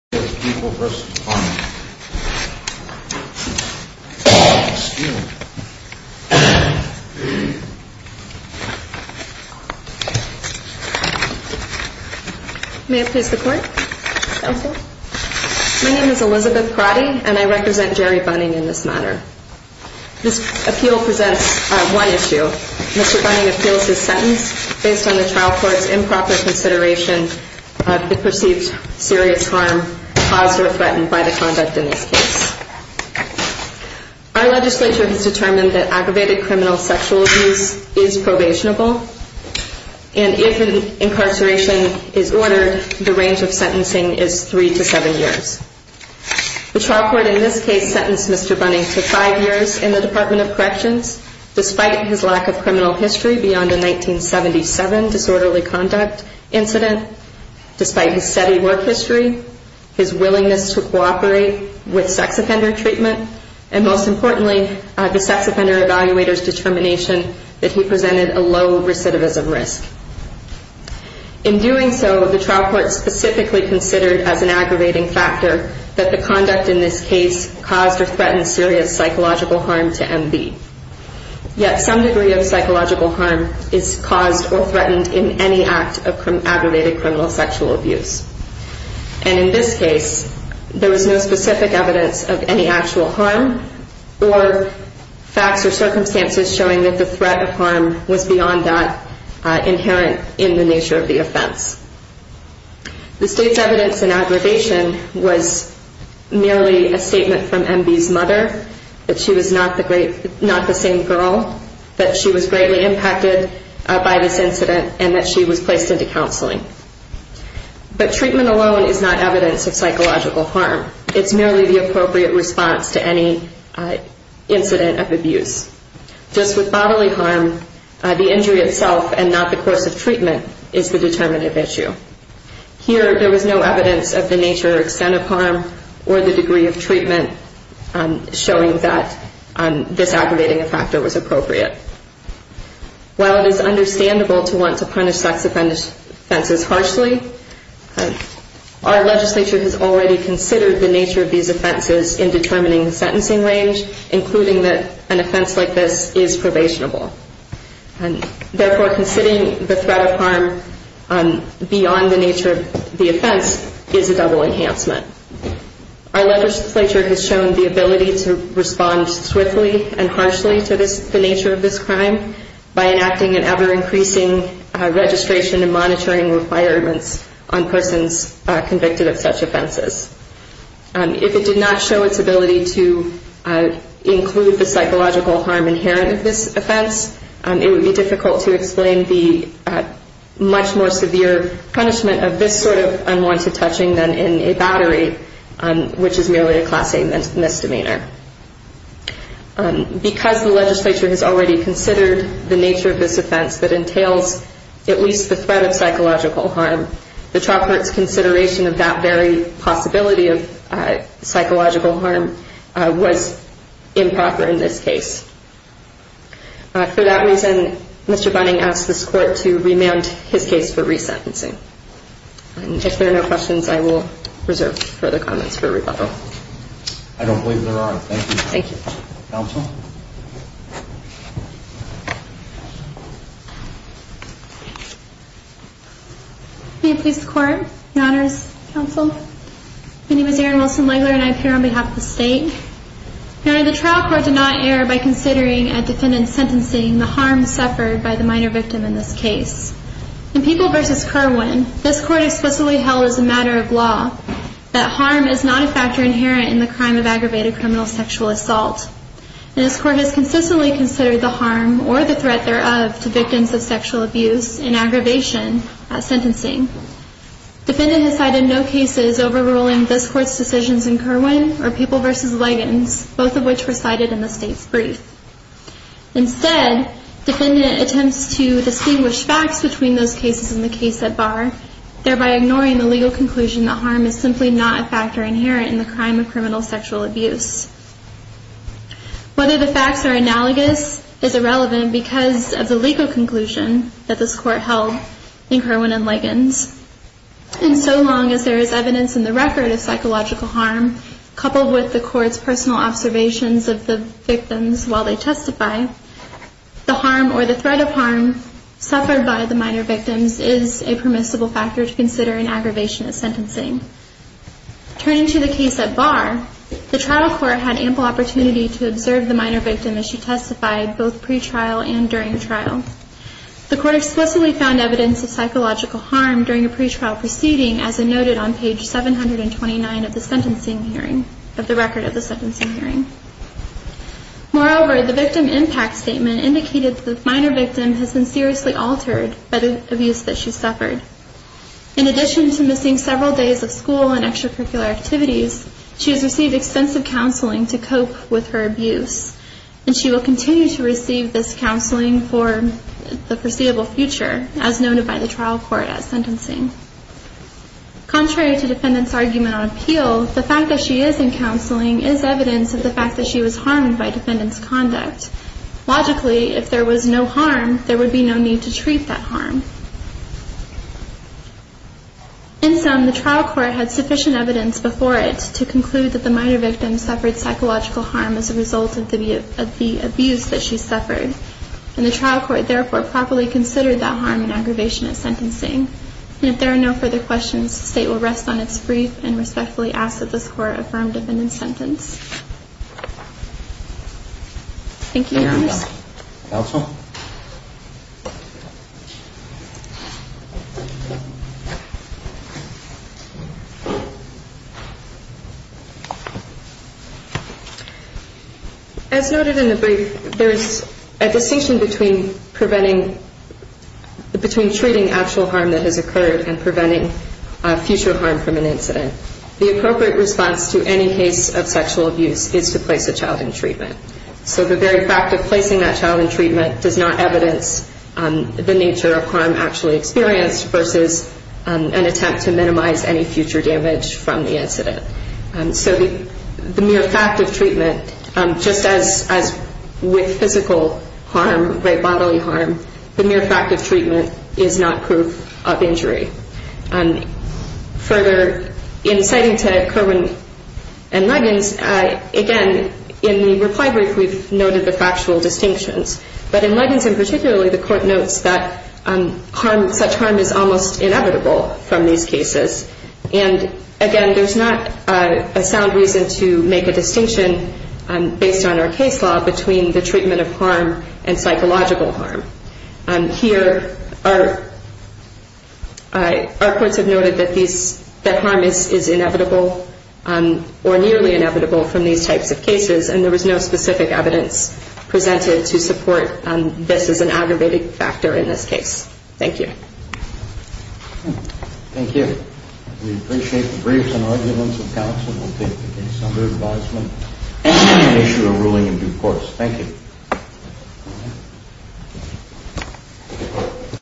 and I represent Jerry Bunning in this matter. This appeal presents one issue. Mr. Bunning appeals his sentence based on the trial court's improper consideration of the perceived serious harm caused or threatened by the conduct in this case. Our legislature has determined that aggravated criminal sexual abuse is probationable, and if an incarceration is ordered, the range of sentencing is three to seven years. The trial court in this case sentenced Mr. Bunning to five years in the Department of Corrections, despite his lack of criminal history beyond a 1977 disorderly conduct incident, despite his steady work history, his willingness to cooperate with sex offender treatment, and most importantly, the sex offender evaluator's determination that he presented a low recidivism risk. In doing so, the trial court specifically considered as an aggravating factor that the conduct in this case caused or threatened serious psychological harm to MB. Yet some degree of psychological harm is caused or threatened in any act of sexual abuse, and in this case, there was no specific evidence of any actual harm or facts or circumstances showing that the threat of harm was beyond that inherent in the nature of the offense. The state's evidence in aggravation was merely a statement from MB's mother that she was not the same girl, that she was greatly impacted by this incident, and that she was placed into counseling. But treatment alone is not evidence of psychological harm. It's merely the appropriate response to any incident of abuse. Just with bodily harm, the injury itself and not the course of treatment is the determinative issue. Here, there was no evidence of the nature or extent of harm or the degree of treatment showing that this aggravating factor was appropriate. While it is understandable to want to punish sex offenses harshly, our legislature has already considered the nature of these offenses in determining the sentencing range, including that an offense like this is probationable. Therefore, considering the threat of harm beyond the nature of the offense is a double enhancement. Our legislature has shown the ability to respond swiftly and harshly to the nature of this crime by enacting an ever-increasing registration and monitoring requirements on persons convicted of such offenses. If it did not show its ability to include the psychological harm inherent in this offense, it would be a more severe punishment of this sort of unwanted touching than in a battery, which is merely a Class A misdemeanor. Because the legislature has already considered the nature of this offense that entails at least the threat of psychological harm, the Chalk Court's consideration of that very possibility of psychological harm was improper in this case, and therefore, the Chalk Court has not considered a defendant sentencing. And if there are no questions, I will reserve further comments for rebuttal. I don't believe there are. Thank you. Thank you. Counsel? May it please the Court, Your Honors, Counsel. My name is Erin Wilson-Legler, and I appear on behalf of the State. Your Honor, the trial court did not err by considering at defendant sentencing the harm suffered by the minor victim in this case. In People v. Kerwin, this Court explicitly held as a matter of law that harm is not a factor inherent in the crime of aggravated criminal sexual assault, and this Court has consistently considered the harm or the threat thereof to victims of sexual abuse and aggravation at sentencing. Defendant has cited no cases overruling this Court's decisions in Kerwin or People v. Leggins, both of which were cited in the State's brief. Instead, defendant attempts to distinguish facts between those cases in the case at bar, thereby ignoring the legal conclusion that harm is simply not a factor inherent in the crime of criminal sexual abuse. Whether the facts are analogous is irrelevant because of the legal conclusion that this Court held in Kerwin and Leggins. And so long as there is personal observations of the victims while they testify, the harm or the threat of harm suffered by the minor victims is a permissible factor to consider in aggravation at sentencing. Turning to the case at bar, the trial court had ample opportunity to observe the minor victim as she testified both pretrial and during the trial. The Court explicitly found evidence of psychological harm during a sentencing hearing. Moreover, the victim impact statement indicated that the minor victim has been seriously altered by the abuse that she suffered. In addition to missing several days of school and extracurricular activities, she has received extensive counseling to cope with her abuse, and she will continue to receive this counseling for the foreseeable future, as noted by the trial court at sentencing. Contrary to defendants' argument on appeal, the fact that she is in counseling is evidence of the fact that she was harmed by defendants' conduct. Logically, if there was no harm, there would be no need to treat that harm. In sum, the trial court had sufficient evidence before it to conclude that the minor victim suffered psychological harm as a result of the abuse that she suffered, and the trial court therefore properly considered that harm and aggravation at sentencing. And if there are no further questions, the State will rest on its brief and respectfully ask that this Court affirm defendant's sentence. Thank you, Your Honor. Counsel? As noted in the brief, there is a distinction between preventing, between treating actual harm that has occurred and preventing future harm from an incident. The appropriate response to any case of sexual abuse is to place a child in treatment. So the very fact of placing a child in treatment does not evidence the nature of harm actually experienced versus an attempt to minimize any future damage from the incident. So the mere fact of treatment, just as with physical harm, great bodily harm, the mere fact of treatment is not proof of injury. Further, in citing to Kerwin and Luggins, again, in the reply brief we've noted the factual distinctions. But in Luggins in particular, the court notes that such harm is almost inevitable from these cases. And again, there's not a sound reason to make a distinction based on our case law between the treatment of harm and psychological harm. Here, our courts have noted that harm is inevitable or nearly inevitable from these types of cases, and there was no specific evidence presented to support this as an aggravating factor in this case. Thank you. Thank you. We appreciate the briefs and arguments of counsel. We'll take the case under advisement and issue a ruling in due course. Thank you.